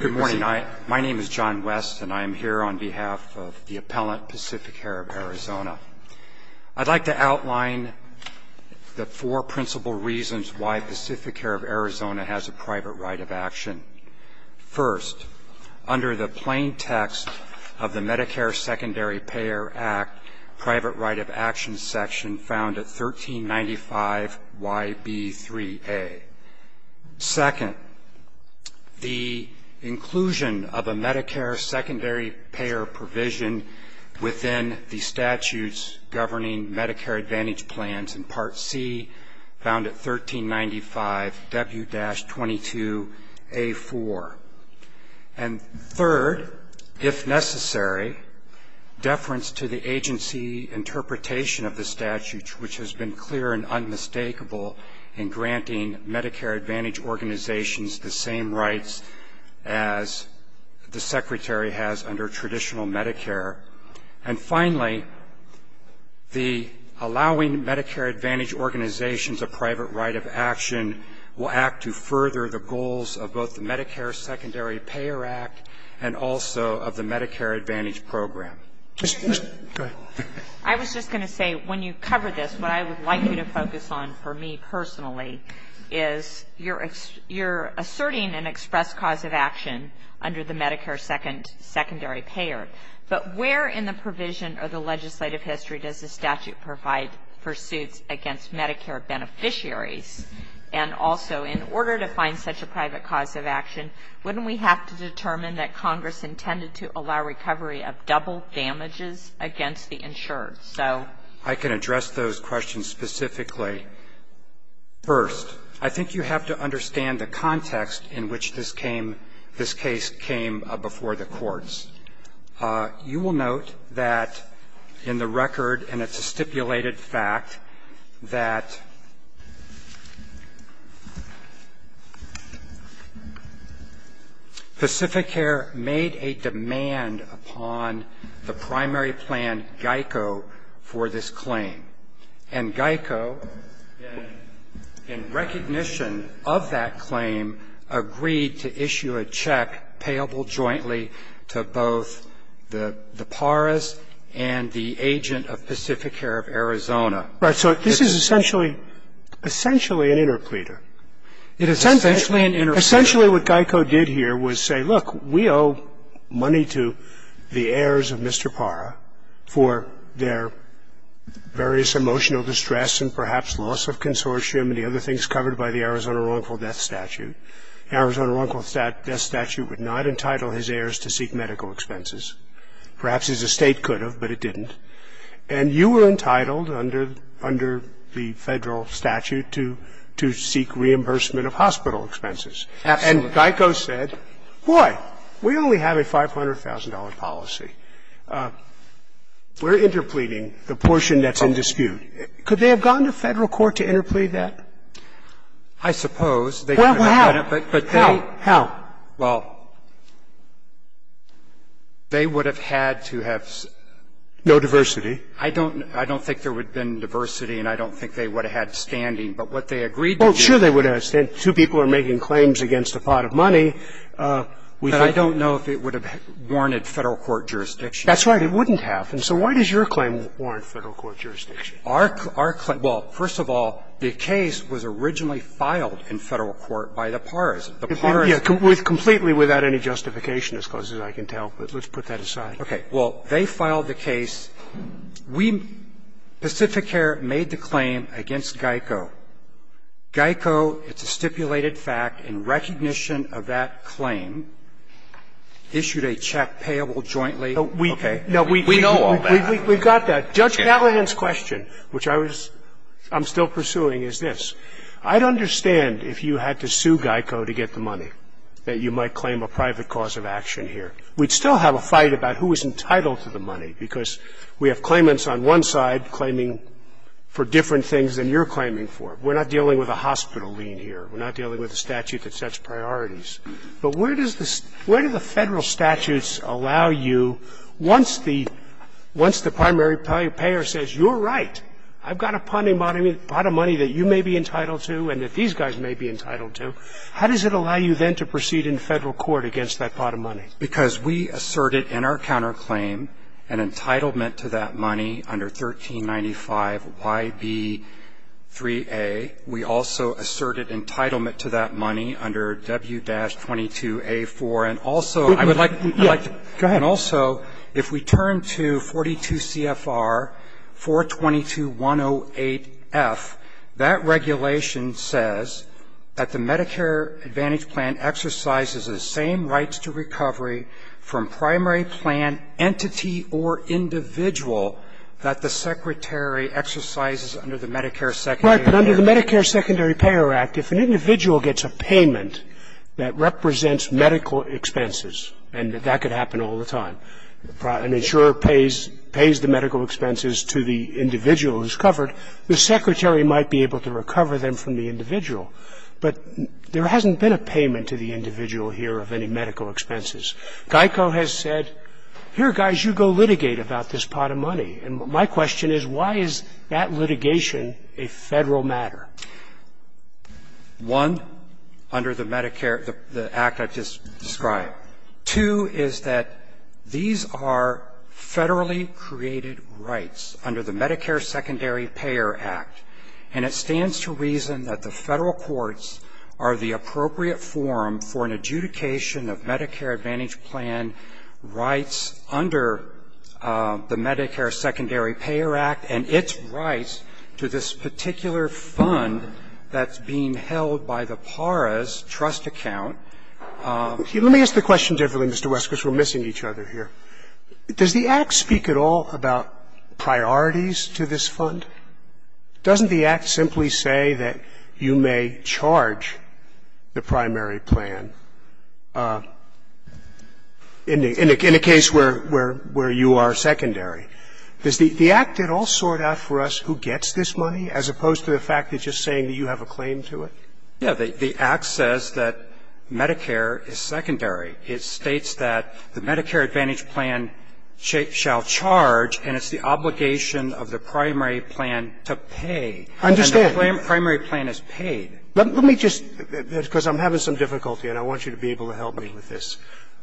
Good morning. My name is John West and I am here on behalf of the Appellant Pacificare of Arizona. I'd like to outline the four principal reasons why Pacificare of Arizona has a private right of action. First, under the plain text of the Medicare Secondary Payer Act, private right of action section found at 1395YB3A. Second, the inclusion of a Medicare secondary payer provision within the statutes governing Medicare Advantage plans in Part C, found at 1395W-22A4. And third, if necessary, deference to the agency interpretation of the statute, which has been clear and unmistakable in granting Medicare Advantage organizations the same rights as the Secretary has under traditional Medicare. And finally, the allowing Medicare Advantage organizations a private right of action will act to further the goals of both the Medicare Secondary Payer Act and also of the Medicare Advantage program. Go ahead. I was just going to say, when you cover this, what I would like you to focus on for me personally is you're asserting an express cause of action under the Medicare Secondary Payer, but where in the provision of the legislative history does the statute provide for suits against Medicare beneficiaries? And also, in order to find such a private cause of action, wouldn't we have to determine that Congress intended to allow recovery of double damages against the insured? So I can address those questions specifically. First, I think you have to understand the context in which this came, this case came before the courts. You will note that in the record, and it's a stipulated fact, that Pacificare made a demand upon the primary plan, GEICO, for this claim. And GEICO, in recognition of that claim, agreed to issue a check payable jointly to both the Paras and the agent of Pacificare of Arizona. Right. So this is essentially an interpleader. It is essentially an interpleader. Essentially what GEICO did here was say, look, we owe money to the heirs of Mr. Para for their various emotional distress and perhaps loss of consortium and the other things covered by the Arizona wrongful death statute. Arizona wrongful death statute would not entitle his heirs to seek medical expenses. Perhaps his estate could have, but it didn't. And you were entitled under the Federal statute to seek reimbursement of hospital expenses. Absolutely. And GEICO said, boy, we only have a $500,000 policy. We're interpleading the portion that's in dispute. Could they have gone to Federal court to interplead that? I suppose. Well, how? How? Well, they would have had to have. No diversity. I don't think there would have been diversity and I don't think they would have had standing. But what they agreed to do. Well, sure they would have had standing. Two people are making claims against a pot of money. But I don't know if it would have warranted Federal court jurisdiction. That's right. It wouldn't have. And so why does your claim warrant Federal court jurisdiction? Our claim, well, first of all, the case was originally filed in Federal court by the paris. The paris. Completely without any justification, as close as I can tell. But let's put that aside. Okay. Well, they filed the case. We, Pacificare, made the claim against GEICO. GEICO, it's a stipulated fact in recognition of that claim, issued a check payable jointly. Okay. We know all that. We've got that. But Judge Halligan's question, which I was – I'm still pursuing, is this. I'd understand if you had to sue GEICO to get the money that you might claim a private cause of action here. We'd still have a fight about who is entitled to the money because we have claimants on one side claiming for different things than you're claiming for. We're not dealing with a hospital lien here. We're not dealing with a statute that sets priorities. But where does the – where do the Federal statutes allow you, once the primary payer says, you're right, I've got a pot of money that you may be entitled to and that these guys may be entitled to, how does it allow you then to proceed in Federal court against that pot of money? Because we asserted in our counterclaim an entitlement to that money under 1395YB3A. We also asserted entitlement to that money under W-22A4. And also, I would like to – I'd like to – Go ahead. And also, if we turn to 42 CFR 422.108F, that regulation says that the Medicare Advantage plan exercises the same rights to recovery from primary plan entity under the Medicare Secondary Payer Act. If an individual gets a payment that represents medical expenses, and that could happen all the time, an insurer pays – pays the medical expenses to the individual who's covered, the secretary might be able to recover them from the individual. But there hasn't been a payment to the individual here of any medical expenses. GEICO has said, here, guys, you go litigate about this pot of money. And my question is, why is that litigation a Federal matter? One, under the Medicare – the act I just described. Two is that these are Federally created rights under the Medicare Secondary Payer Act. And it stands to reason that the Federal courts are the appropriate forum for an adjudication of Medicare Advantage plan rights under the Medicare Secondary Payer Act and its rights to this particular fund that's being held by the PARA's trust account. Let me ask the question differently, Mr. West, because we're missing each other here. Does the act speak at all about priorities to this fund? Doesn't the act simply say that you may charge the primary plan in a case where you are secondary? Does the act at all sort out for us who gets this money, as opposed to the fact that just saying that you have a claim to it? Yeah. The act says that Medicare is secondary. It states that the Medicare Advantage plan shall charge, and it's the obligation of the primary plan to pay. I understand. And the primary plan is paid. Let me just – because I'm having some difficulty and I want you to be able to help me with this.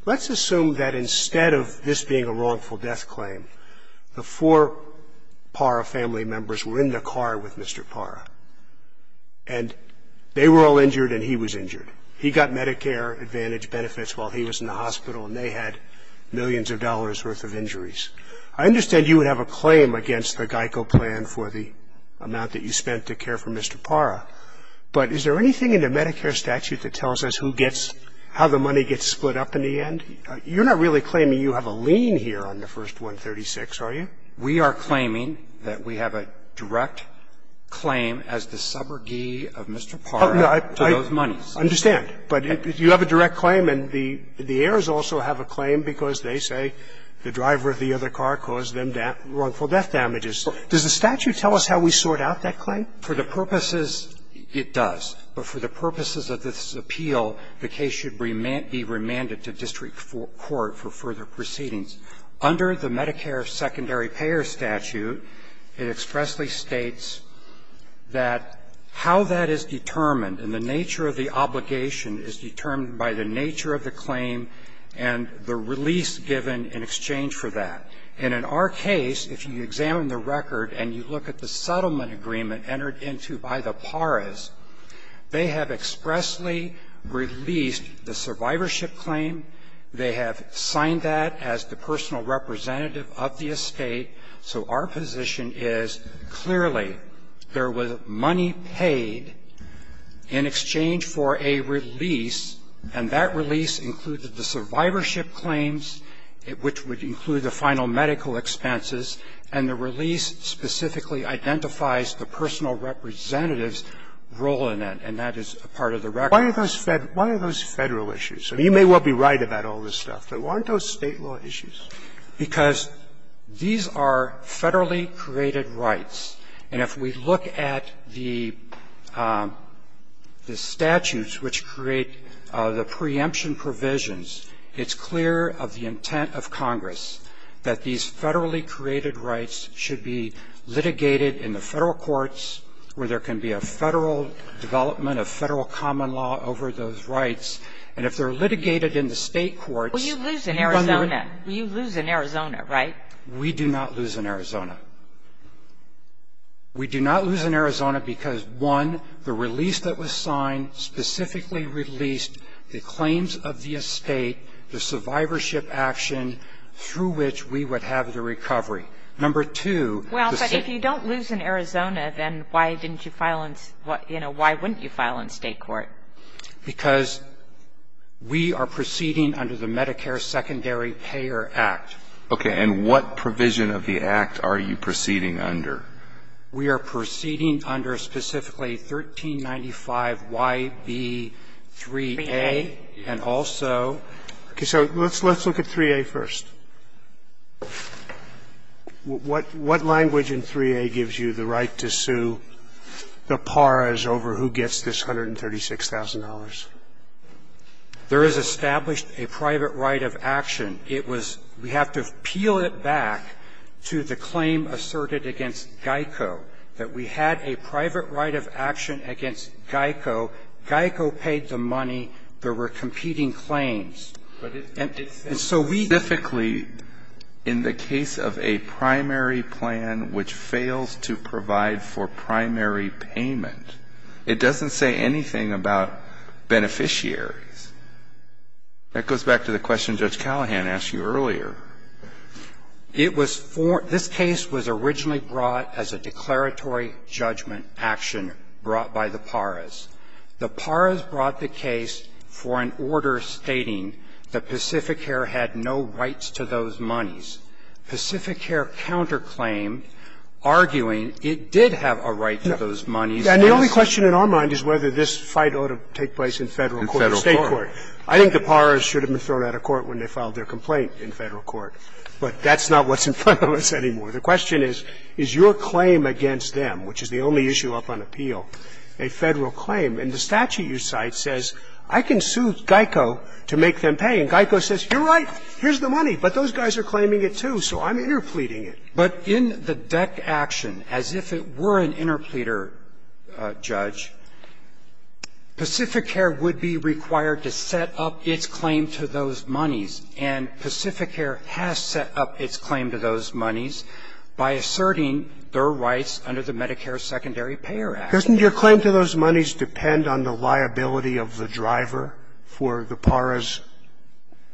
Let's assume that instead of this being a wrongful death claim, the four PARA family members were in the car with Mr. PARA. And they were all injured and he was injured. He got Medicare Advantage benefits while he was in the hospital and they had millions of dollars' worth of injuries. I understand you would have a claim against the GEICO plan for the amount that you spent to care for Mr. PARA, but is there anything in the Medicare statute that tells us who gets – how the money gets split up in the end? You're not really claiming you have a lien here on the first 136, are you? We are claiming that we have a direct claim as the suborgy of Mr. PARA to those monies. I understand. But you have a direct claim and the heirs also have a claim because they say the driver of the other car caused them wrongful death damages. Does the statute tell us how we sort out that claim? For the purposes – it does. But for the purposes of this appeal, the case should be remanded to district court for further proceedings. Under the Medicare secondary payer statute, it expressly states that how that is determined and the nature of the obligation is determined by the nature of the claim and the release given in exchange for that. And in our case, if you examine the record and you look at the settlement agreement entered into by the PARAs, they have expressly released the survivorship claim. They have signed that as the personal representative of the estate. So our position is clearly there was money paid in exchange for a release, and that release included the survivorship claims, which would include the final medical expenses, and the release specifically identifies the personal representative's role in that. And that is part of the record. Why are those Federal issues? I mean, you may well be right about all this stuff, but why aren't those State law issues? Because these are Federally created rights, and if we look at the statutes which create the preemption provisions, it's clear of the intent of Congress that these Federally created rights should be litigated in the Federal courts where there can be a Federal development, a Federal common law over those rights. And if they're litigated in the State courts, you've under the ---- Well, you lose in Arizona. You lose in Arizona, right? We do not lose in Arizona. We do not lose in Arizona because, one, the release that was signed specifically released the claims of the estate, the survivorship action through which we would have the recovery. Number two, the ---- Well, but if you don't lose in Arizona, then why didn't you file in, you know, why wouldn't you file in State court? Because we are proceeding under the Medicare Secondary Payer Act. Okay. And what provision of the Act are you proceeding under? We are proceeding under specifically 1395YB3A and also ---- Okay. So let's look at 3A first. What language in 3A gives you the right to sue the paras over who gets this $136,000? There is established a private right of action. It was we have to peel it back to the claim asserted against GEICO, that we had a private right of action against GEICO, GEICO paid the money, there were competing claims. And so we ---- But specifically, in the case of a primary plan which fails to provide for primary payment, it doesn't say anything about beneficiaries. That goes back to the question Judge Callahan asked you earlier. It was for ---- this case was originally brought as a declaratory judgment action brought by the paras. The paras brought the case for an order stating that Pacific Air had no rights to those monies. Pacific Air counterclaimed, arguing it did have a right to those monies. And the only question in our mind is whether this fight ought to take place in Federal court or State court. I think the paras should have been thrown out of court when they filed their complaint in Federal court. But that's not what's in front of us anymore. The question is, is your claim against them, which is the only issue up on appeal, a Federal claim? And the statute you cite says, I can sue GEICO to make them pay. And GEICO says, you're right, here's the money. But those guys are claiming it, too, so I'm interpleading it. But in the DEC action, as if it were an interpleader, Judge, Pacific Air would be required to set up its claim to those monies, and Pacific Air has set up its claim to those monies by asserting their rights under the Medicare Secondary Payer Act. Doesn't your claim to those monies depend on the liability of the driver for the paras?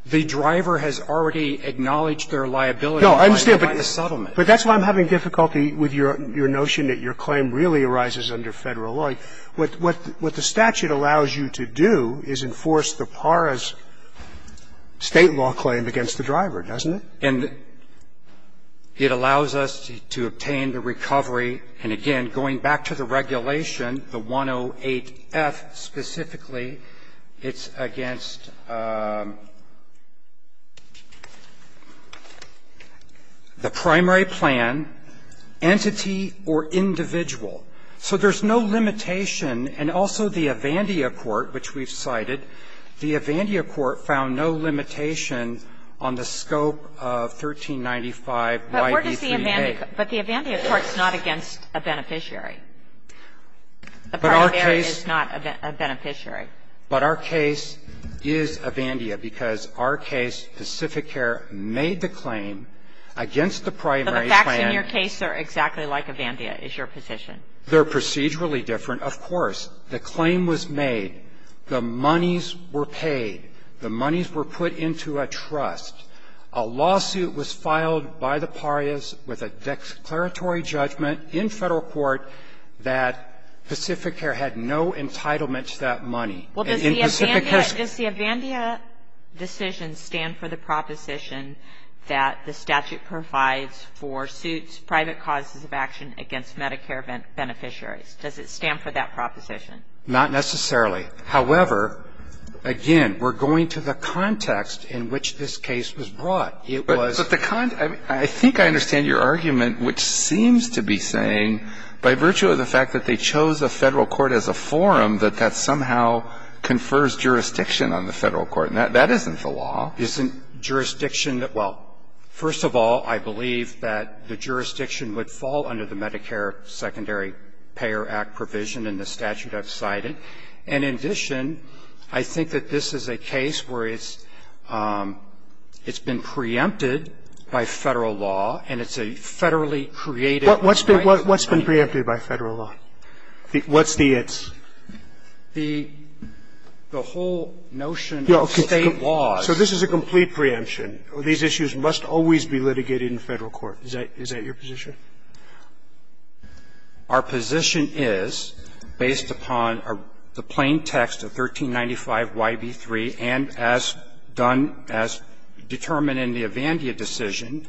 The driver has already acknowledged their liability by the settlement. But that's why I'm having difficulty with your notion that your claim really arises under Federal law. What the statute allows you to do is enforce the paras' State law claim against the driver, doesn't it? And it allows us to obtain the recovery. And again, going back to the regulation, the 108F specifically, it's against the primary plan, entity, or individual. So there's no limitation. And also the Avandia court, which we've cited, the Avandia court found no limitation on the scope of 1395YB3A. But the Avandia court's not against a beneficiary. The primary is not a beneficiary. But our case is Avandia because our case, Pacific Air made the claim against the primary plan. But the facts in your case are exactly like Avandia is your position. They're procedurally different. Of course, the claim was made. The monies were paid. The monies were put into a trust. A lawsuit was filed by the paras with a declaratory judgment in Federal court that Pacific Air had no entitlement to that money. And Pacific Air's ---- Well, does the Avandia decision stand for the proposition that the statute provides for suits, private causes of action against Medicare beneficiaries? Does it stand for that proposition? Not necessarily. However, again, we're going to the context in which this case was brought. It was ---- But the con ---- I think I understand your argument, which seems to be saying by virtue of the fact that they chose a Federal court as a forum, that that somehow confers jurisdiction on the Federal court. That isn't the law. Isn't jurisdiction that ---- well, first of all, I believe that the jurisdiction would fall under the Medicare Secondary Payer Act provision in the statute I've cited. And in addition, I think that this is a case where it's been preempted by Federal law, and it's a Federally created right ---- What's been preempted by Federal law? What's the it's? The whole notion of State law is ---- So this is a complete preemption. These issues must always be litigated in Federal court. Is that your position? Our position is, based upon the plain text of 1395YB3 and as done as determined in the Avandia decision,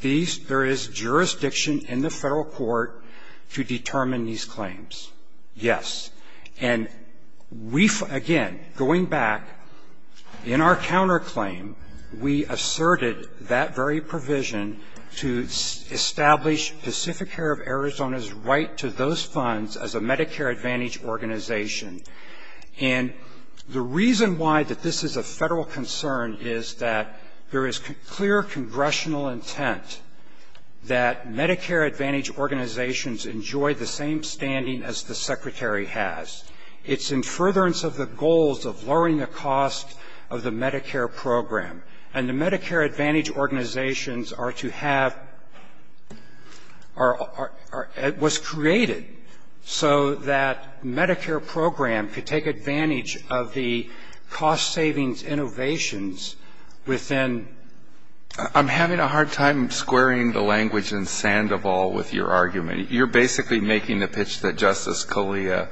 these ---- there is jurisdiction in the Federal court to determine these claims, yes. And we ---- again, going back, in our counterclaim, we asserted that very provision to establish Pacific Air of Arizona's right to those funds as a Medicare Advantage organization. And the reason why that this is a Federal concern is that there is clear Congressional intent that Medicare Advantage organizations enjoy the same standing as the Secretary has. It's in furtherance of the goals of lowering the cost of the Medicare program. And the Medicare Advantage organizations are to have or was created so that Medicare program could take advantage of the cost savings innovations within ---- I'm having a hard time squaring the language in Sandoval with your argument. You're basically making the pitch that Justice Scalia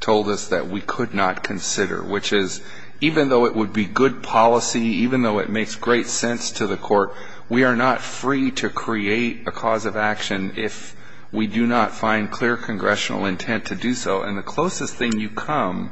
told us that we could not consider, which is, even though it would be good policy, even though it makes great sense to the court, we are not free to create a cause of action if we do not find clear Congressional intent to do so. And the closest thing you come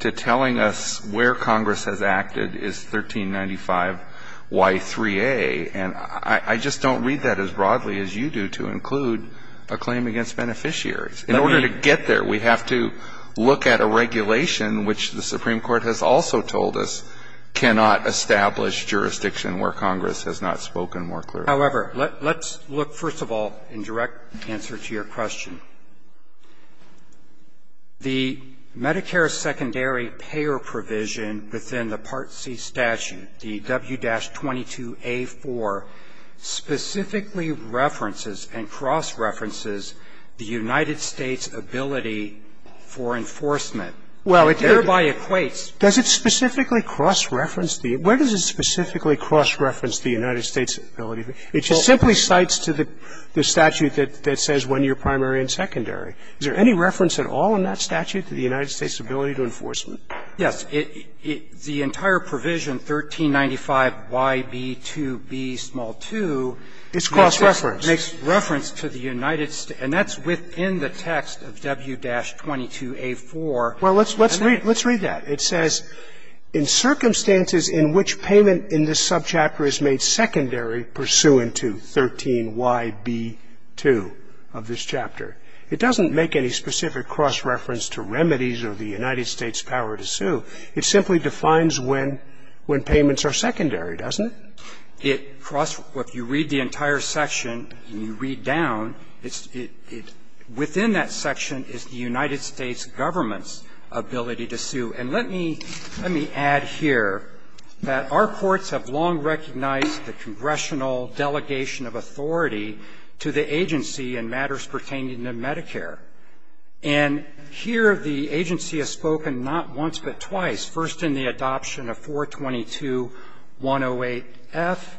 to telling us where Congress has acted is 1395Y3A. And I just don't read that as broadly as you do to include a claim against beneficiaries. In order to get there, we have to look at a regulation which the Supreme Court has also told us cannot establish jurisdiction where Congress has not spoken more clearly. However, let's look, first of all, in direct answer to your question. The Medicare secondary payer provision within the Part C statute, the W-22A4, specifically references and cross-references the United States' ability for enforcement. Well, it did. And thereby equates ---- Does it specifically cross-reference the ---- where does it specifically cross-reference the United States' ability? It just simply cites to the statute that says when you're primary and secondary. Is there any reference at all in that statute to the United States' ability to enforcement? Yes. But the entire provision, 1395YB2B2, makes reference to the United States. And that's within the text of W-22A4. Well, let's read that. It says, In circumstances in which payment in this subchapter is made secondary pursuant to 13YB2 of this chapter, it doesn't make any specific cross-reference to remedies or the United States' power to sue. It simply defines when payments are secondary, doesn't it? It cross-references ---- if you read the entire section and you read down, it's ---- within that section is the United States' government's ability to sue. And let me add here that our courts have long recognized the congressional delegation of authority to the agency in matters pertaining to Medicare. And here the agency has spoken not once but twice, first in the adoption of 422-108-F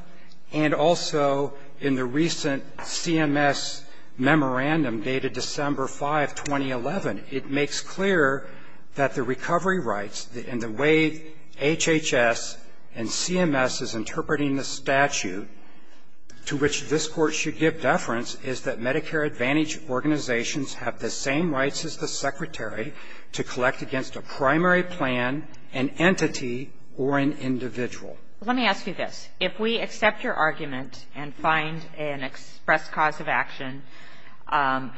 and also in the recent CMS memorandum dated December 5, 2011. It makes clear that the recovery rights and the way HHS and CMS is interpreting the statute to which this Court should give deference is that Medicare Advantage organizations have the same rights as the Secretary to collect against a primary plan, an entity, or an individual. Let me ask you this. If we accept your argument and find an express cause of action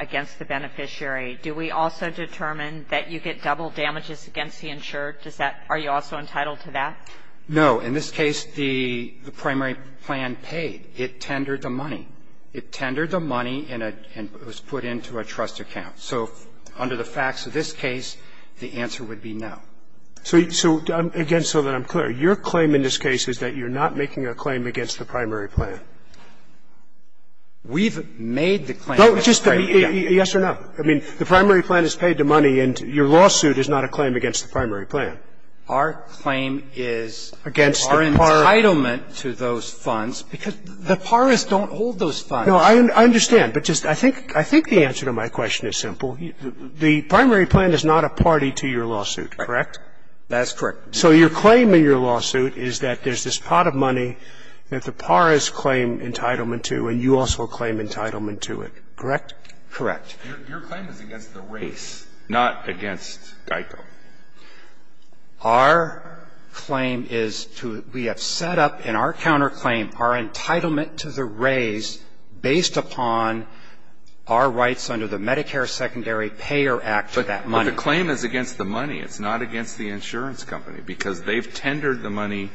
against the beneficiary, do we also determine that you get double damages against the insured? Does that ---- are you also entitled to that? No. In this case, the primary plan paid. It tendered the money. It tendered the money, and it was put into a trust account. So under the facts of this case, the answer would be no. So, again, so that I'm clear, your claim in this case is that you're not making a claim against the primary plan. We've made the claim. No, just to be clear, yes or no? I mean, the primary plan is paid the money, and your lawsuit is not a claim against the primary plan. Our claim is our entitlement to those funds because the parists don't hold those funds. No, I understand. But just I think the answer to my question is simple. The primary plan is not a party to your lawsuit, correct? That's correct. So your claim in your lawsuit is that there's this pot of money that the paras claim entitlement to, and you also claim entitlement to it, correct? Correct. Your claim is against the race, not against GEICO. Our claim is to we have set up in our counterclaim our entitlement to the raise based upon our rights under the Medicare Secondary Payer Act to that money. But the claim is against the money. It's not against the insurance company because they've tendered the money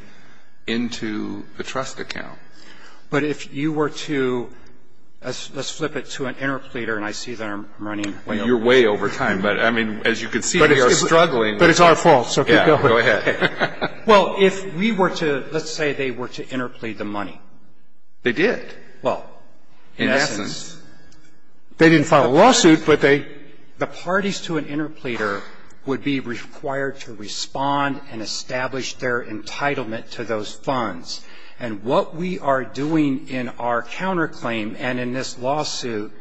into the trust account. But if you were to, let's flip it to an interpleader, and I see that I'm running way over time. You're way over time, but I mean, as you can see, we are struggling. But it's our fault, so keep going. Yeah, go ahead. Well, if we were to, let's say they were to interplead the money. They did. Well, in essence, they didn't file a lawsuit, but they, the parties to an interpleader would be required to respond and establish their entitlement to those funds. And what we are doing in our counterclaim and in this lawsuit,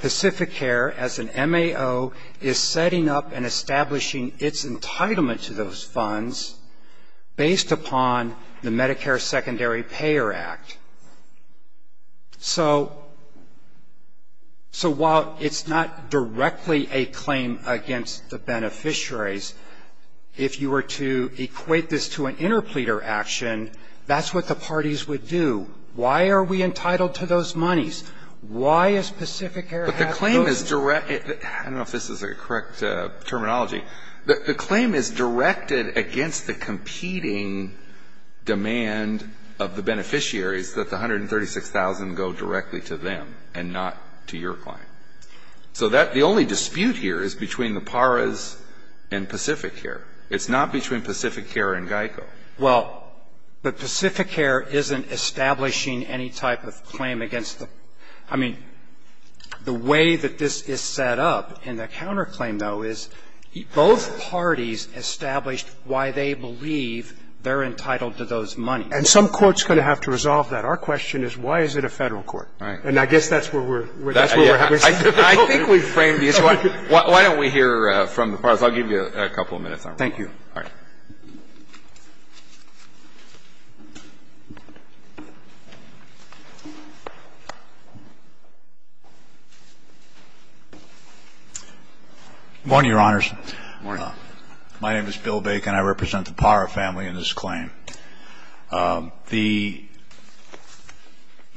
Pacificare, as an MAO, is setting up and establishing its entitlement to those funds based upon the Medicare Secondary Payer Act. So while it's not directly a claim against the beneficiaries, if you were to equate this to an interpleader action, that's what the parties would do. Why are we entitled to those monies? Why is Pacificare having those? But the claim is direct, I don't know if this is the correct terminology. The claim is directed against the competing demand of the beneficiaries that the $136,000 go directly to them and not to your client. So that, the only dispute here is between the PARAs and Pacificare. It's not between Pacificare and GEICO. Well, but Pacificare isn't establishing any type of claim against the, I mean, the way that this is set up in the counterclaim, though, is both parties established why they believe they're entitled to those monies. And some court's going to have to resolve that. Our question is, why is it a Federal court? And I guess that's where we're at. I think we've framed the issue. Why don't we hear from the PARAs? I'll give you a couple of minutes. Thank you. All right. Good morning, Your Honors. Good morning. My name is Bill Bacon. I represent the PARA family in this claim. The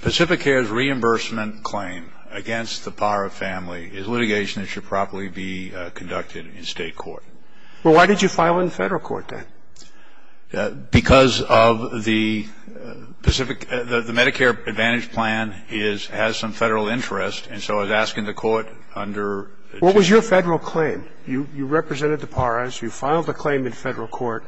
Pacificare's reimbursement claim against the PARA family is litigation that should properly be conducted in State court. Well, why did you file it in Federal court, then? Because of the Pacific, the Medicare Advantage plan is, has some Federal interest. And so I was asking the court under. What was your Federal claim? You represented the PARAs. You filed a claim in Federal court.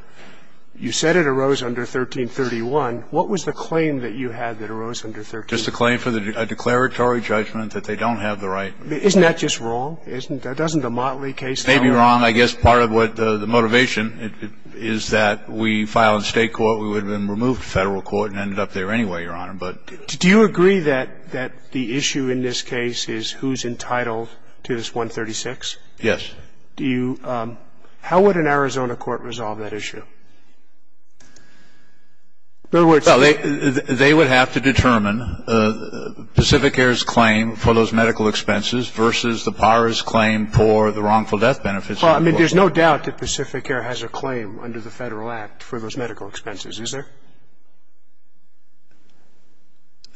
You said it arose under 1331. What was the claim that you had that arose under 1331? Just a claim for a declaratory judgment that they don't have the right. Isn't that just wrong? Isn't that, doesn't the Motley case. It may be wrong. I guess part of what the motivation is that we filed in State court. We would have been removed to Federal court and ended up there anyway, Your Honor. But. Do you agree that, that the issue in this case is who's entitled to this 136? Yes. Do you, how would an Arizona court resolve that issue? In other words. Well, they, they would have to determine Pacificare's claim for those medical expenses versus the PARA's claim for the wrongful death benefits. Well, I mean, there's no doubt that Pacificare has a claim under the Federal Act for those medical expenses, is there?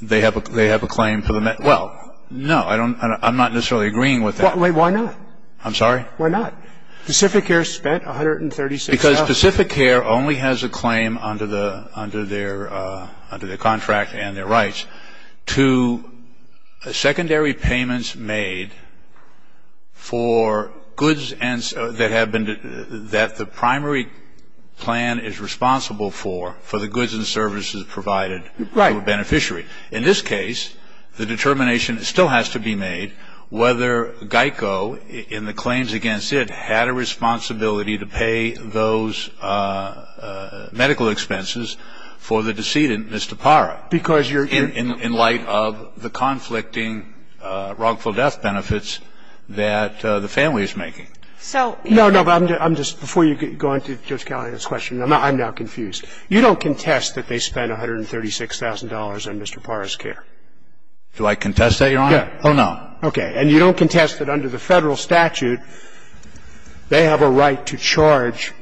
They have a, they have a claim for the, well, no, I don't, I'm not necessarily agreeing with that. Wait, why not? I'm sorry? Why not? Pacificare spent 136. Because Pacificare only has a claim under the, under their, under their contract and their rights to secondary payments made for goods and, that have been, that the primary plan is responsible for, for the goods and services provided to a beneficiary. In this case, the determination still has to be made whether GEICO, in the claims against it, had a responsibility to pay those medical expenses for the decedent, Mr. PARA. Because you're. In, in, in light of the conflicting wrongful death benefits that the family is making. So. No, no, but I'm just, before you go on to Judge Callahan's question, I'm not, I'm now confused. You don't contest that they spent $136,000 on Mr. PARA's care. Do I contest that, Your Honor? Yeah. Oh, no. Okay. And you don't contest that under the Federal statute, they have a right to charge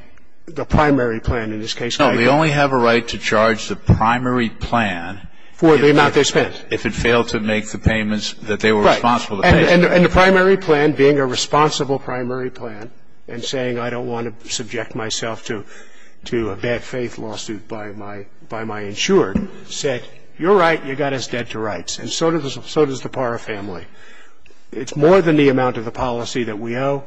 the primary plan in this case. No, they only have a right to charge the primary plan. For the amount they spent. If it failed to make the payments that they were responsible to pay. Right. And, and the primary plan being a responsible primary plan and saying I don't want to subject myself to, to a bad faith lawsuit by my, by my insured said, you're right, you got us dead to rights. And so does, so does the PARA family. It's more than the amount of the policy that we owe.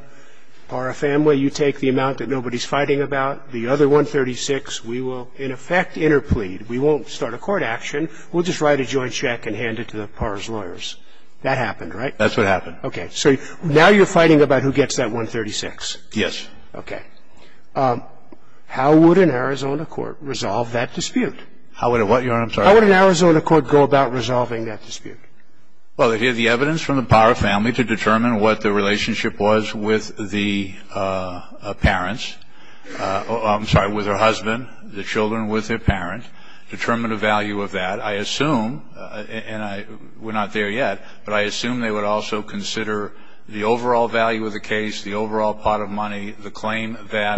PARA family, you take the amount that nobody's fighting about. The other $136,000, we will, in effect, interplead. We won't start a court action. We'll just write a joint check and hand it to the PARA's lawyers. That happened, right? That's what happened. Okay. So now you're fighting about who gets that $136,000. Yes. Okay. How would an Arizona court resolve that dispute? How would it what, Your Honor? I'm sorry. How would an Arizona court go about resolving that dispute? Well, it is the evidence from the PARA family to determine what the relationship was with the parents, I'm sorry, with her husband, the children with their parents, determine the value of that. I assume, and I, we're not there yet, but I assume they would also consider the overall value of the case, the overall pot of money, the claim that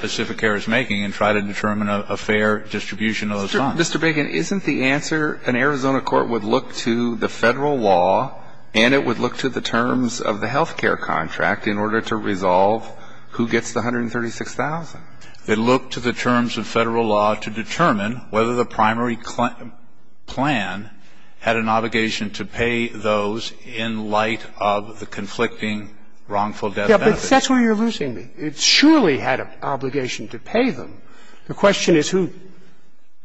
Pacific Air is making, and try to determine a fair distribution of the funds. Mr. Biggin, isn't the answer, an Arizona court would look to the federal law, and it would look to the terms of the health care contract in order to resolve who gets the $136,000? It'd look to the terms of federal law to determine whether the primary plan had an obligation to pay those in light of the conflicting wrongful death benefits. Yeah, but that's where you're losing me. It surely had an obligation to pay them. The question is who.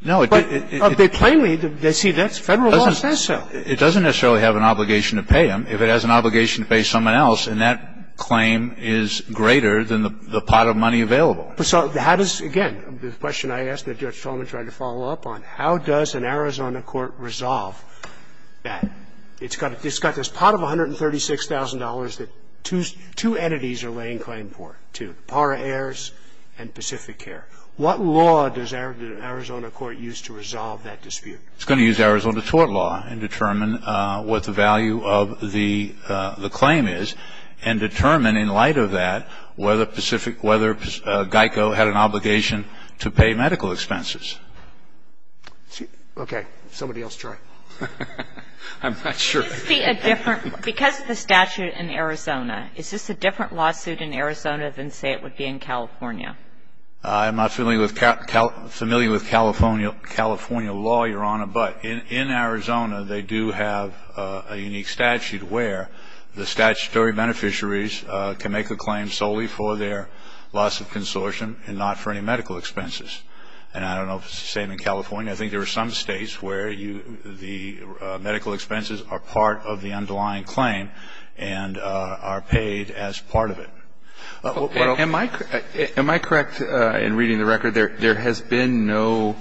No, it didn't. But they claim, they see that's, federal law says so. It doesn't necessarily have an obligation to pay them. If it has an obligation to pay someone else, then that claim is greater than the pot of money available. So how does, again, the question I asked that Judge Solomon tried to follow up on, how does an Arizona court resolve that? It's got this pot of $136,000 that two entities are laying claim for, two, the Parra Heirs and Pacific Air. What law does an Arizona court use to resolve that dispute? It's going to use Arizona tort law and determine what the value of the claim is and determine in light of that whether Pacific, whether Geico had an obligation to pay medical expenses. Okay. Somebody else try. I'm not sure. Because of the statute in Arizona, is this a different lawsuit in Arizona than, say, it would be in California? I'm not familiar with California law, Your Honor. But in Arizona, they do have a unique statute where the statutory beneficiaries can make a claim solely for their loss of consortium and not for any medical expenses. And I don't know if it's the same in California. I think there are some states where the medical expenses are part of the underlying claim and are paid as part of it. Am I correct in reading the record? There has been no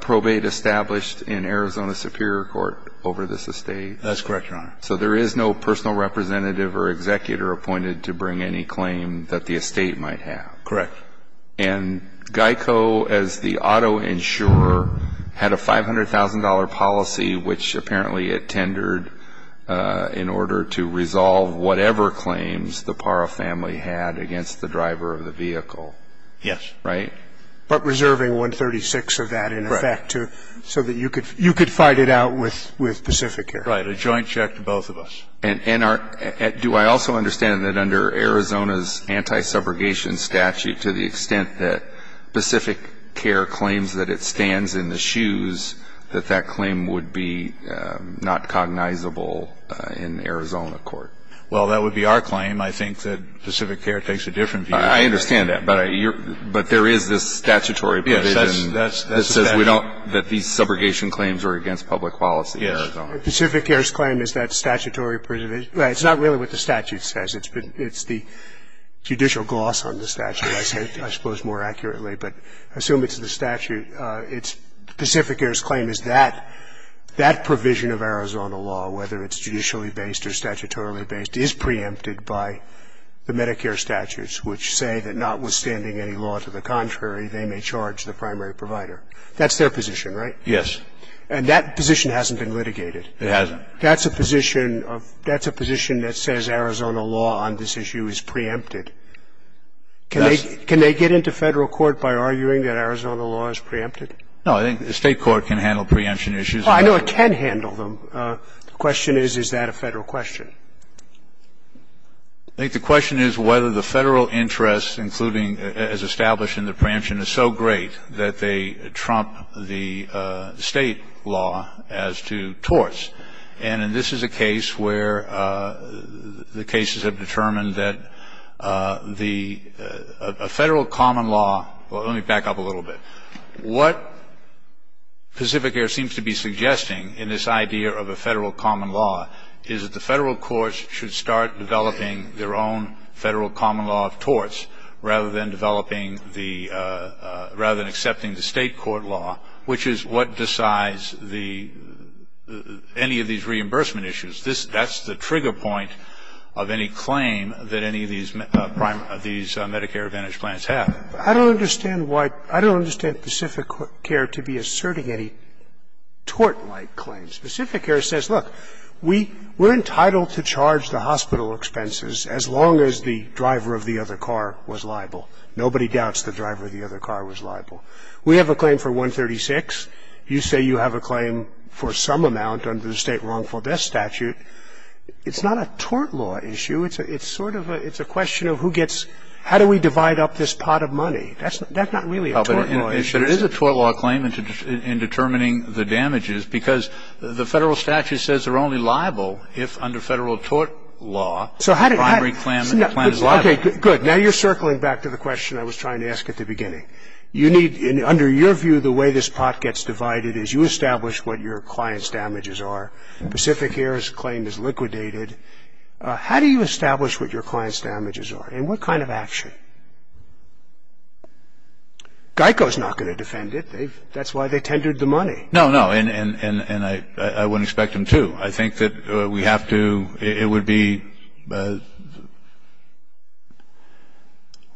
probate established in Arizona Superior Court over this estate? That's correct, Your Honor. So there is no personal representative or executor appointed to bring any claim that the estate might have? Correct. And Geico, as the auto insurer, had a $500,000 policy, which apparently it tendered in order to resolve whatever claims the Parra family had against the driver of the vehicle. Yes. Right? But reserving $136,000 of that, in effect, so that you could fight it out with Pacificare. Right, a joint check to both of us. And do I also understand that under Arizona's anti-subrogation statute, that that claim would be not cognizable in Arizona court? Well, that would be our claim. I think that Pacificare takes a different view. I understand that, but there is this statutory provision that says we don't, that these subrogation claims are against public policy in Arizona. Pacificare's claim is that statutory provision, it's not really what the statute says, it's the judicial gloss on the statute, I suppose more accurately. But assume it's the statute, it's Pacificare's claim is that that provision of Arizona law, whether it's judicially based or statutorily based, is preempted by the Medicare statutes, which say that notwithstanding any law to the contrary, they may charge the primary provider. That's their position, right? Yes. And that position hasn't been litigated. It hasn't. That's a position of, that's a position that says Arizona law on this issue is preempted. Can they get into Federal court by arguing that Arizona law is preempted? No, I think the State court can handle preemption issues. Well, I know it can handle them. The question is, is that a Federal question? I think the question is whether the Federal interest, including as established in the preemption, is so great that they trump the State law as to torts. And this is a case where the cases have determined that a Federal common law, well let me back up a little bit, what Pacificare seems to be suggesting in this idea of a Federal common law is that the Federal courts should start developing their own Federal common law of torts rather than accepting the State court law, which is what decides the, any of these reimbursement issues. That's the trigger point of any claim that any of these Medicare Advantage plans have. I don't understand why, I don't understand Pacificare to be asserting any tort-like claims. Pacificare says, look, we're entitled to charge the hospital expenses as long as the driver of the other car was liable. Nobody doubts the driver of the other car was liable. We have a claim for 136. You say you have a claim for some amount under the State wrongful death statute. It's not a tort law issue. It's a, it's sort of a, it's a question of who gets, how do we divide up this pot of money? That's, that's not really a tort law issue. But it is a tort law claim in determining the damages because the Federal statute says they're only liable if under Federal tort law, the primary claim, the claim is liable. Okay, good. Now you're circling back to the question I was trying to ask at the beginning. You need, under your view, the way this pot gets divided is you establish what your client's damages are. Pacificare's claim is liquidated. How do you establish what your client's damages are? And what kind of action? GEICO's not going to defend it. That's why they tendered the money. No, no, and I wouldn't expect them to. I think that we have to, it would be,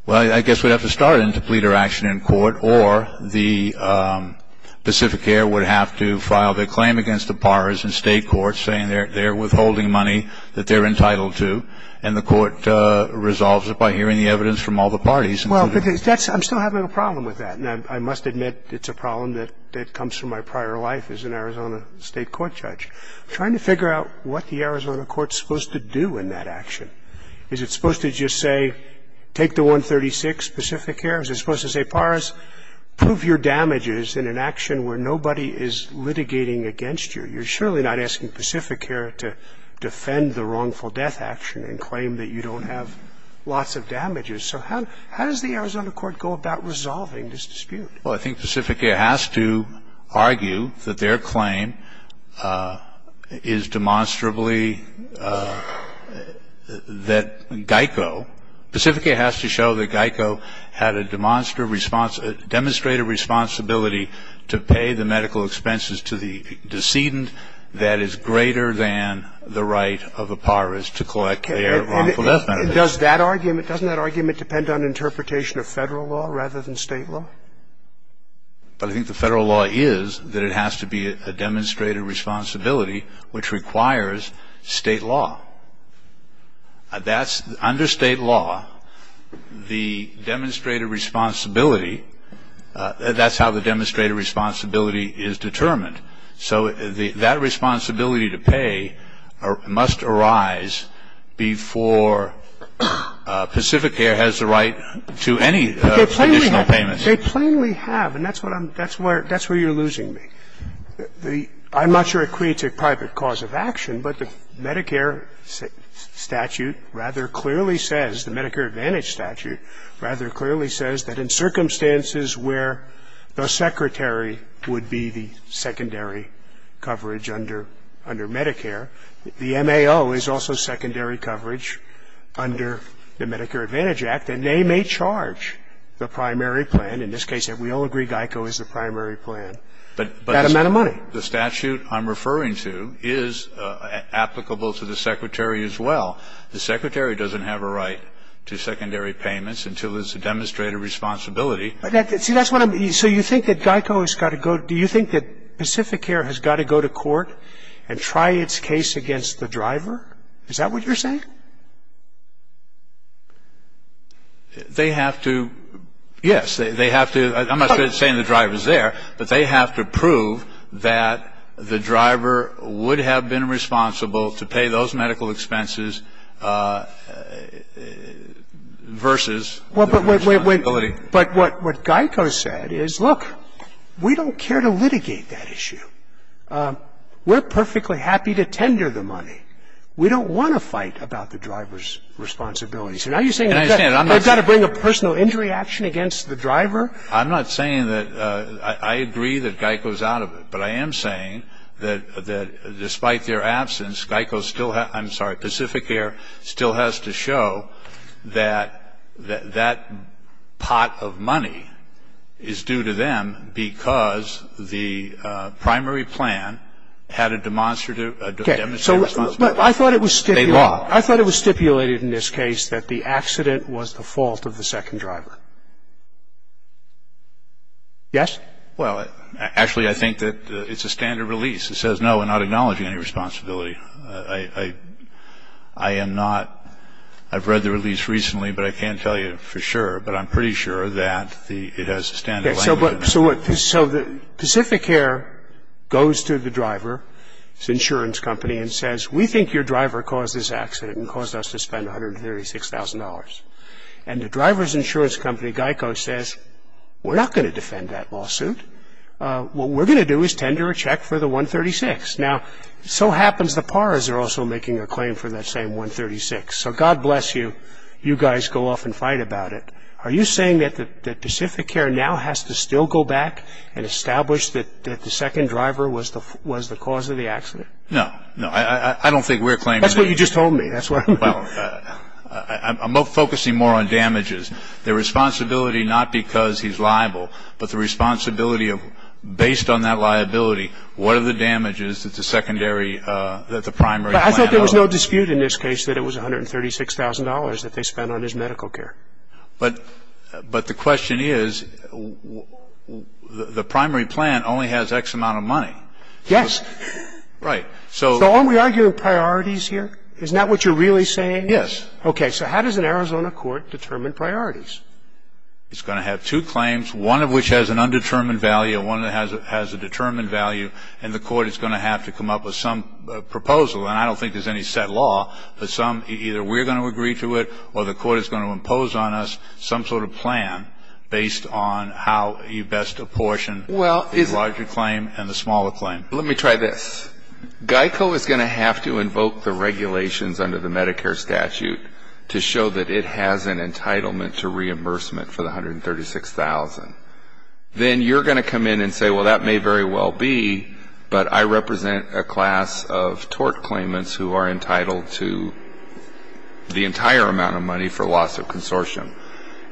well, I guess we'd have to start in to pleader action in court or the Pacificare would have to file their claim against the PARs and state courts saying they're withholding money that they're entitled to. And the court resolves it by hearing the evidence from all the parties. Well, because that's, I'm still having a problem with that. And I must admit it's a problem that comes from my prior life as an Arizona state court judge. I'm trying to figure out what the Arizona court's supposed to do in that action. Is it supposed to just say, take the 136, Pacificare? Is it supposed to say, PARs, prove your damages in an action where nobody is litigating against you? You're surely not asking Pacificare to defend the wrongful death action and claim that you don't have lots of damages. So how does the Arizona court go about resolving this dispute? Well, I think Pacificare has to argue that their claim is demonstrably that Geico, Pacificare has to show that Geico had a demonstrative responsibility to pay the medical expenses to the decedent that is greater than the right of a PARs to collect their wrongful death. And does that argument, doesn't that argument depend on interpretation of Federal law rather than State law? But I think the Federal law is that it has to be a demonstrative responsibility which requires State law. That's, under State law, the demonstrative responsibility, that's how the demonstrative responsibility is determined. So that responsibility to pay must arise before Pacificare has the right to any additional payment. They plainly have, and that's what I'm, that's where, that's where you're losing me. I'm not sure it creates a private cause of action, but the Medicare statute rather clearly says, the Medicare Advantage statute rather clearly says that in circumstances where the secretary would be the secondary coverage under, under Medicare, the MAO is also secondary coverage under the Medicare Advantage Act, and they may charge the primary plan, in this case, and we all agree GEICO is the primary plan, that amount of money. But the statute I'm referring to is applicable to the secretary as well. The secretary doesn't have a right to secondary payments until it's a demonstrative responsibility. But that, see, that's what I'm, so you think that GEICO has got to go, do you think that Pacificare has got to go to court and try its case against the driver, is that what you're saying? They have to, yes, they have to, I'm not saying the driver's there, but they have to prove that the driver would have been responsible to pay those medical expenses versus the responsibility. But what GEICO said is, look, we don't care to litigate that issue. We're perfectly happy to tender the money. We don't want to fight about the driver's responsibility. So now you're saying they've got to bring a personal injury action against the driver? I'm not saying that, I agree that GEICO's out of it, but I am saying that despite their absence, GEICO still has, I'm sorry, Pacificare still has to show that that pot of money is due to them because the primary plan had a demonstrative responsibility. Okay, so, but I thought it was stipulated in this case that the primary plan was that the accident was the fault of the second driver, yes? Well, actually, I think that it's a standard release. It says, no, we're not acknowledging any responsibility. I am not, I've read the release recently, but I can't tell you for sure, but I'm pretty sure that it has a standard language. So Pacificare goes to the driver's insurance company and says, we think your driver caused this accident and caused us to spend $136,000. And the driver's insurance company, GEICO, says, we're not going to defend that lawsuit. What we're going to do is tender a check for the 136. Now, so happens the PARAs are also making a claim for that same 136. So God bless you, you guys go off and fight about it. Are you saying that Pacificare now has to still go back and establish that the second driver was the cause of the accident? No, no, I don't think we're claiming- That's what you just told me, that's what I'm- Well, I'm focusing more on damages. The responsibility, not because he's liable, but the responsibility of, based on that liability, what are the damages that the secondary, that the primary plan- I thought there was no dispute in this case that it was $136,000 that they spent on his medical care. But the question is, the primary plan only has X amount of money. Yes. Right, so- So are we arguing priorities here? Isn't that what you're really saying? Yes. Okay, so how does an Arizona court determine priorities? It's going to have two claims, one of which has an undetermined value, and one that has a determined value. And the court is going to have to come up with some proposal, and I don't think there's any set law. But some, either we're going to agree to it, or the court is going to impose on us some sort of plan based on how you best apportion the larger claim and the smaller claim. Let me try this. GEICO is going to have to invoke the regulations under the Medicare statute to show that it has an entitlement to reimbursement for the $136,000. Then you're going to come in and say, well, that may very well be, but I represent a class of tort claimants who are entitled to the entire amount of money for loss of consortium.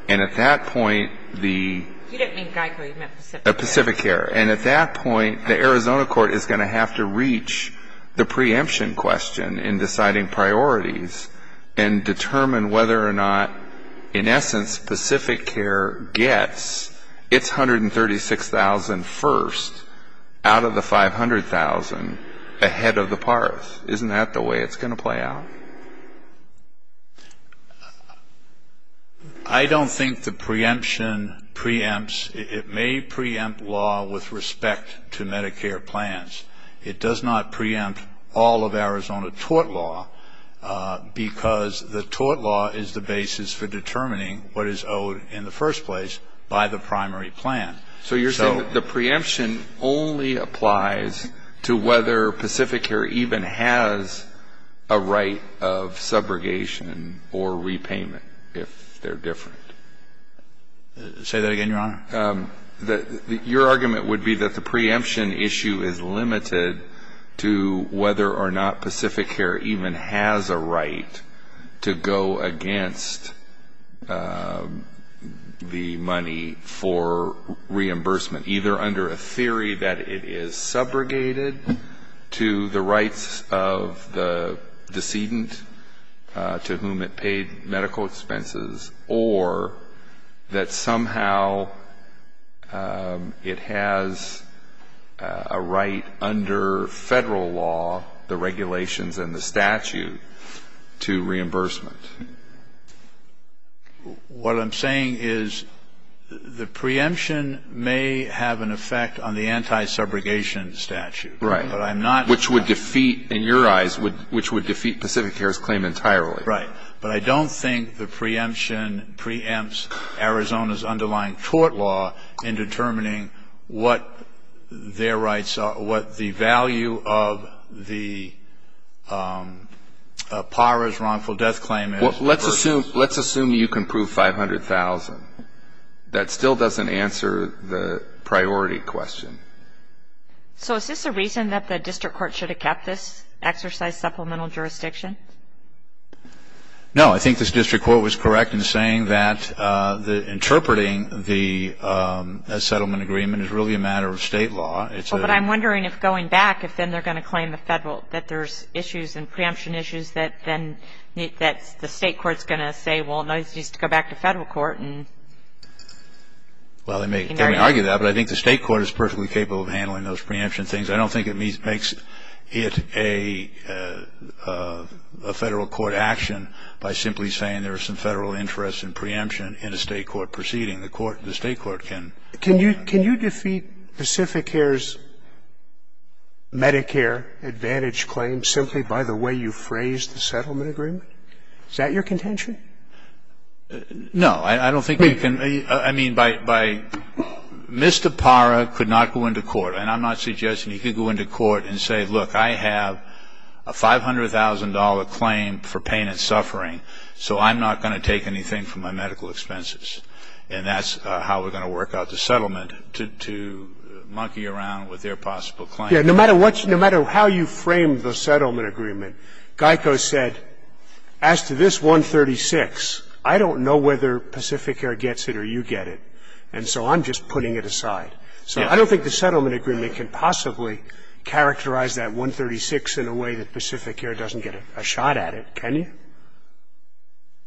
And at that point, the- You didn't mean GEICO, you meant Pacific Care. Pacific Care. And at that point, the Arizona court is going to have to reach the preemption question in deciding priorities and determine whether or not, in essence, Pacific Care gets its $136,000 first out of the $500,000 ahead of the PARF. Isn't that the way it's going to play out? I don't think the preemption preempts. It may preempt law with respect to Medicare plans. It does not preempt all of Arizona tort law because the tort law is the basis for determining what is owed in the first place by the primary plan. So you're saying that the preemption only applies to whether Pacific Care even has a right of subrogation or repayment, if they're different? Say that again, Your Honor. Your argument would be that the preemption issue is limited to whether or not Pacific Care even has a right to go against the money for reimbursement, either under a theory that it is subrogated to the rights of the decedent to whom it paid medical expenses or that somehow it has a right under federal law, the regulations and the statute, to reimbursement. What I'm saying is the preemption may have an effect on the anti-subrogation statute, which would defeat, in your eyes, Pacific Care's claim entirely. Right, but I don't think the preemption preempts Arizona's underlying tort law in determining what their rights are, what the value of the PARA's wrongful death claim is. Well, let's assume you can prove 500,000. That still doesn't answer the priority question. So is this a reason that the district court should have kept this exercise supplemental jurisdiction? No, I think this district court was correct in saying that interpreting the settlement agreement is really a matter of State law. Well, but I'm wondering if going back, if then they're going to claim the federal, that there's issues and preemption issues that then the State court's going to say, well, no, this needs to go back to federal court. Well, they may argue that, but I think the State court is perfectly capable of handling those preemption things. I don't think it makes it a federal court action by simply saying there are some federal interests in preemption in a State court proceeding. The court, the State court can. Can you defeat Pacific Air's Medicare advantage claim simply by the way you phrased the settlement agreement? Is that your contention? No. I don't think you can. I mean, by Mr. PARA could not go into court, and I'm not suggesting he could go into court and say, look, I have a $500,000 claim for pain and suffering, so I'm not going to take anything for my medical expenses. And that's how we're going to work out the settlement, to monkey around with their possible claim. No matter what, no matter how you frame the settlement agreement, Geico said, as to this 136, I don't know whether Pacific Air gets it or you get it, and so I'm just putting it aside. So I don't think the settlement agreement can possibly characterize that 136 in a way that Pacific Air doesn't get a shot at it, can you?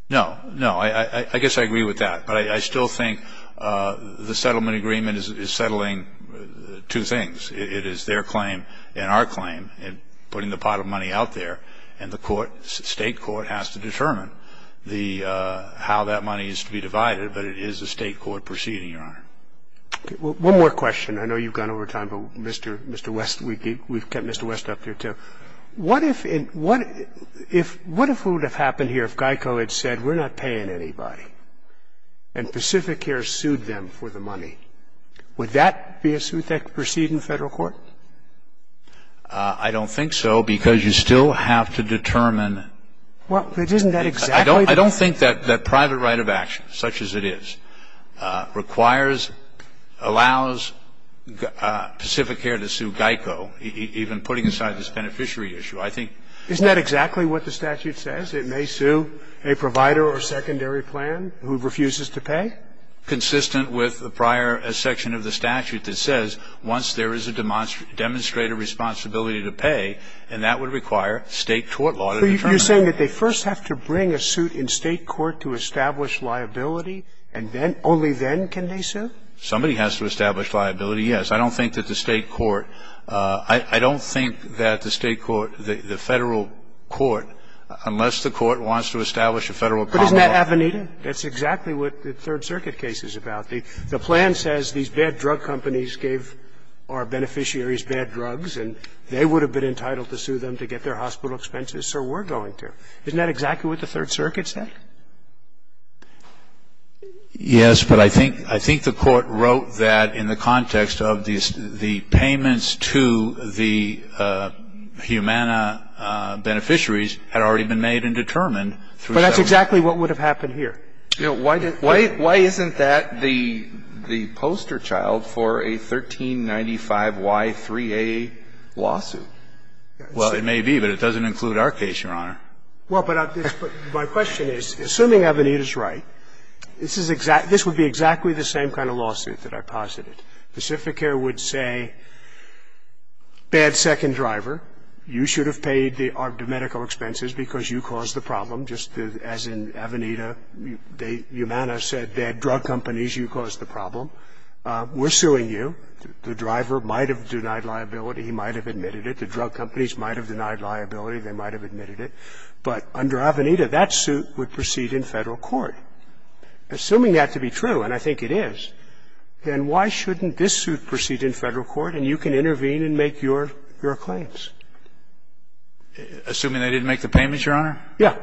No. No. I guess I agree with that. But I still think the settlement agreement is settling two things. It is their claim and our claim in putting the pot of money out there, and the court ‑‑ State court has to determine how that money is to be divided, but it is a State court proceeding, Your Honor. Okay. One more question. I know you've gone over time, but Mr. West, we've kept Mr. West up here, too. What if we would have happened here if Geico had said we're not paying anybody and Pacific Air sued them for the money? Would that be a suit that could proceed in Federal court? I don't think so, because you still have to determine ‑‑ Well, isn't that exactly the case? I don't think that private right of action, such as it is, requires, allows Pacific Air to sue Geico, even putting aside this beneficiary issue. I think ‑‑ Isn't that exactly what the statute says? It may sue a provider or secondary plan who refuses to pay? Consistent with the prior section of the statute that says once there is a demonstrator responsibility to pay, and that would require State court law to determine. So you're saying that they first have to bring a suit in State court to establish liability, and then ‑‑ only then can they sue? Somebody has to establish liability, yes. I don't think that the State court ‑‑ I don't think that the State court, the Federal court, unless the court wants to establish a Federal ‑‑ But isn't that Avenida? That's exactly what the Third Circuit case is about. The plan says these bad drug companies gave our beneficiaries bad drugs, and they would have been entitled to sue them to get their hospital expenses, so we're going Isn't that exactly what the Third Circuit said? Yes, but I think the court wrote that in the context of the payments to the Humana beneficiaries had already been made and determined through ‑‑ But that's exactly what would have happened here. Why isn't that the poster child for a 1395Y3A lawsuit? Well, it may be, but it doesn't include our case, Your Honor. Well, but my question is, assuming Avenida is right, this would be exactly the same kind of lawsuit that I posited. Pacificare would say, bad second driver, you should have paid the medical expenses because you caused the problem, just as in Avenida. Humana said bad drug companies, you caused the problem. We're suing you. The driver might have denied liability. He might have admitted it. The drug companies might have denied liability. They might have admitted it. But under Avenida, that suit would proceed in Federal court. Assuming that to be true, and I think it is, then why shouldn't this suit proceed in Federal court and you can intervene and make your claims? Assuming they didn't make the payments, Your Honor? Yeah.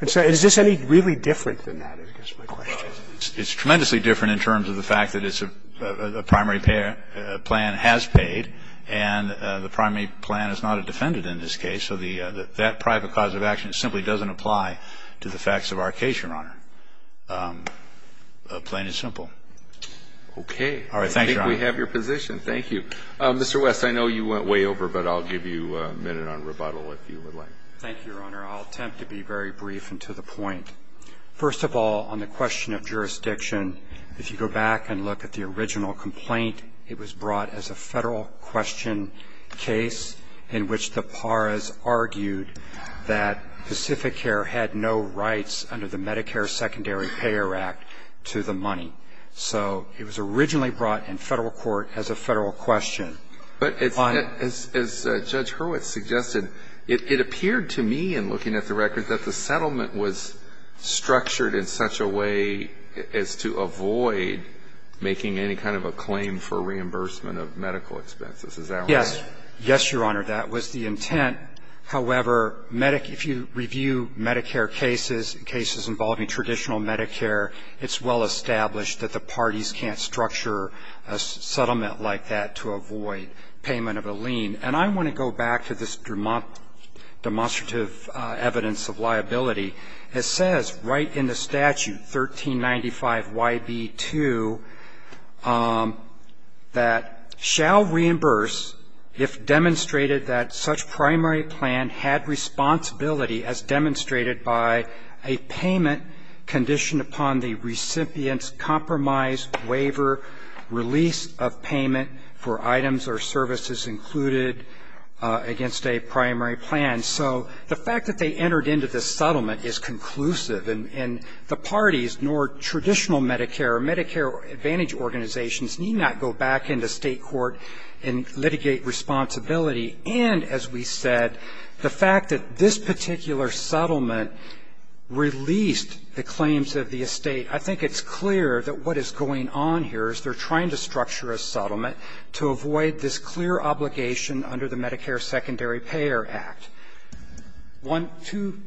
And so is this any really different than that, I guess is my question. Well, it's tremendously different in terms of the fact that it's a primary payer plan has paid, and the primary plan is not a defendant in this case. So that private cause of action simply doesn't apply to the facts of our case, Your Honor. Plain and simple. Okay. All right. Thank you, Your Honor. I think we have your position. Thank you. Mr. West, I know you went way over, but I'll give you a minute on rebuttal if you would like. Thank you, Your Honor. I'll attempt to be very brief and to the point. First of all, on the question of jurisdiction, if you go back and look at the original complaint, it was brought as a Federal question case in which the PARAs argued that Pacificare had no rights under the Medicare Secondary Payer Act to the money. So it was originally brought in Federal court as a Federal question. But as Judge Hurwitz suggested, it appeared to me in looking at the record that the claim for reimbursement of medical expenses. Is that right? Yes. Yes, Your Honor. That was the intent. However, if you review Medicare cases, cases involving traditional Medicare, it's well established that the parties can't structure a settlement like that to avoid payment of a lien. And I want to go back to this demonstrative evidence of liability. It says right in the statute, 1395YB2, that shall reimburse if demonstrated that such primary plan had responsibility as demonstrated by a payment conditioned upon the recipient's compromise, waiver, release of payment for items or services included against a primary plan. And so the fact that they entered into this settlement is conclusive. And the parties, nor traditional Medicare or Medicare Advantage organizations need not go back into state court and litigate responsibility. And as we said, the fact that this particular settlement released the claims of the estate, I think it's clear that what is going on here is they're trying to structure a settlement. One, two,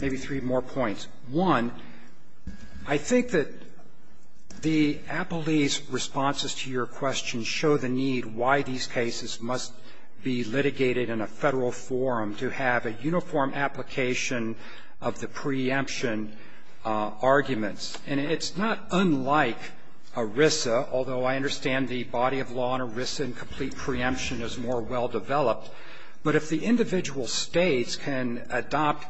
maybe three more points. One, I think that the appellee's responses to your question show the need why these cases must be litigated in a Federal forum to have a uniform application of the preemption arguments. And it's not unlike ERISA, although I understand the body of law on ERISA and complete preemption is more well-developed, but if the individual states can adopt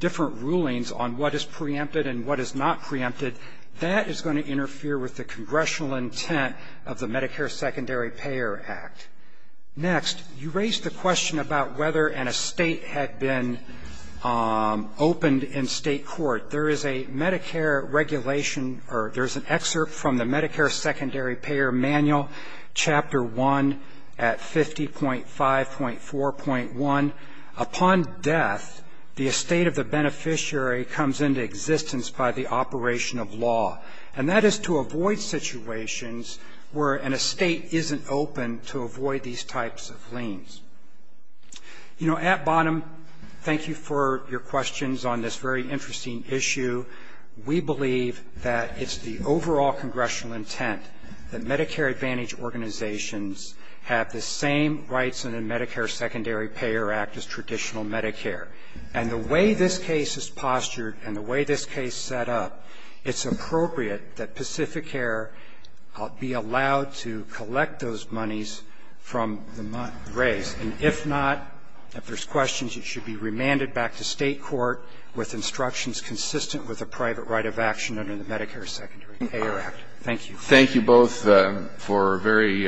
different rulings on what is preempted and what is not preempted, that is going to interfere with the congressional intent of the Medicare Secondary Payer Act. Next, you raised the question about whether an estate had been opened in state court. There is a Medicare regulation or there's an excerpt from the Medicare Secondary Payer Manual, Chapter 1 at 50.5.4.1. Upon death, the estate of the beneficiary comes into existence by the operation of law. And that is to avoid situations where an estate isn't open to avoid these types of liens. You know, at bottom, thank you for your questions on this very interesting issue. We believe that it's the overall congressional intent that Medicare Advantage organizations have the same rights in the Medicare Secondary Payer Act as traditional Medicare. And the way this case is postured and the way this case is set up, it's appropriate that Pacific Air be allowed to collect those monies from the race. And if not, if there's questions, it should be remanded back to state court with instructions consistent with the private right of action under the Medicare Secondary Payer Act. Thank you. Thank you both for a very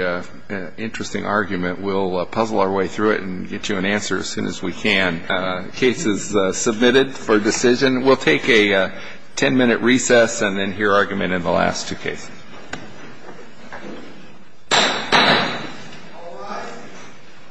interesting argument. We'll puzzle our way through it and get you an answer as soon as we can. Case is submitted for decision. We'll take a ten-minute recess and then hear argument in the last two cases. All rise.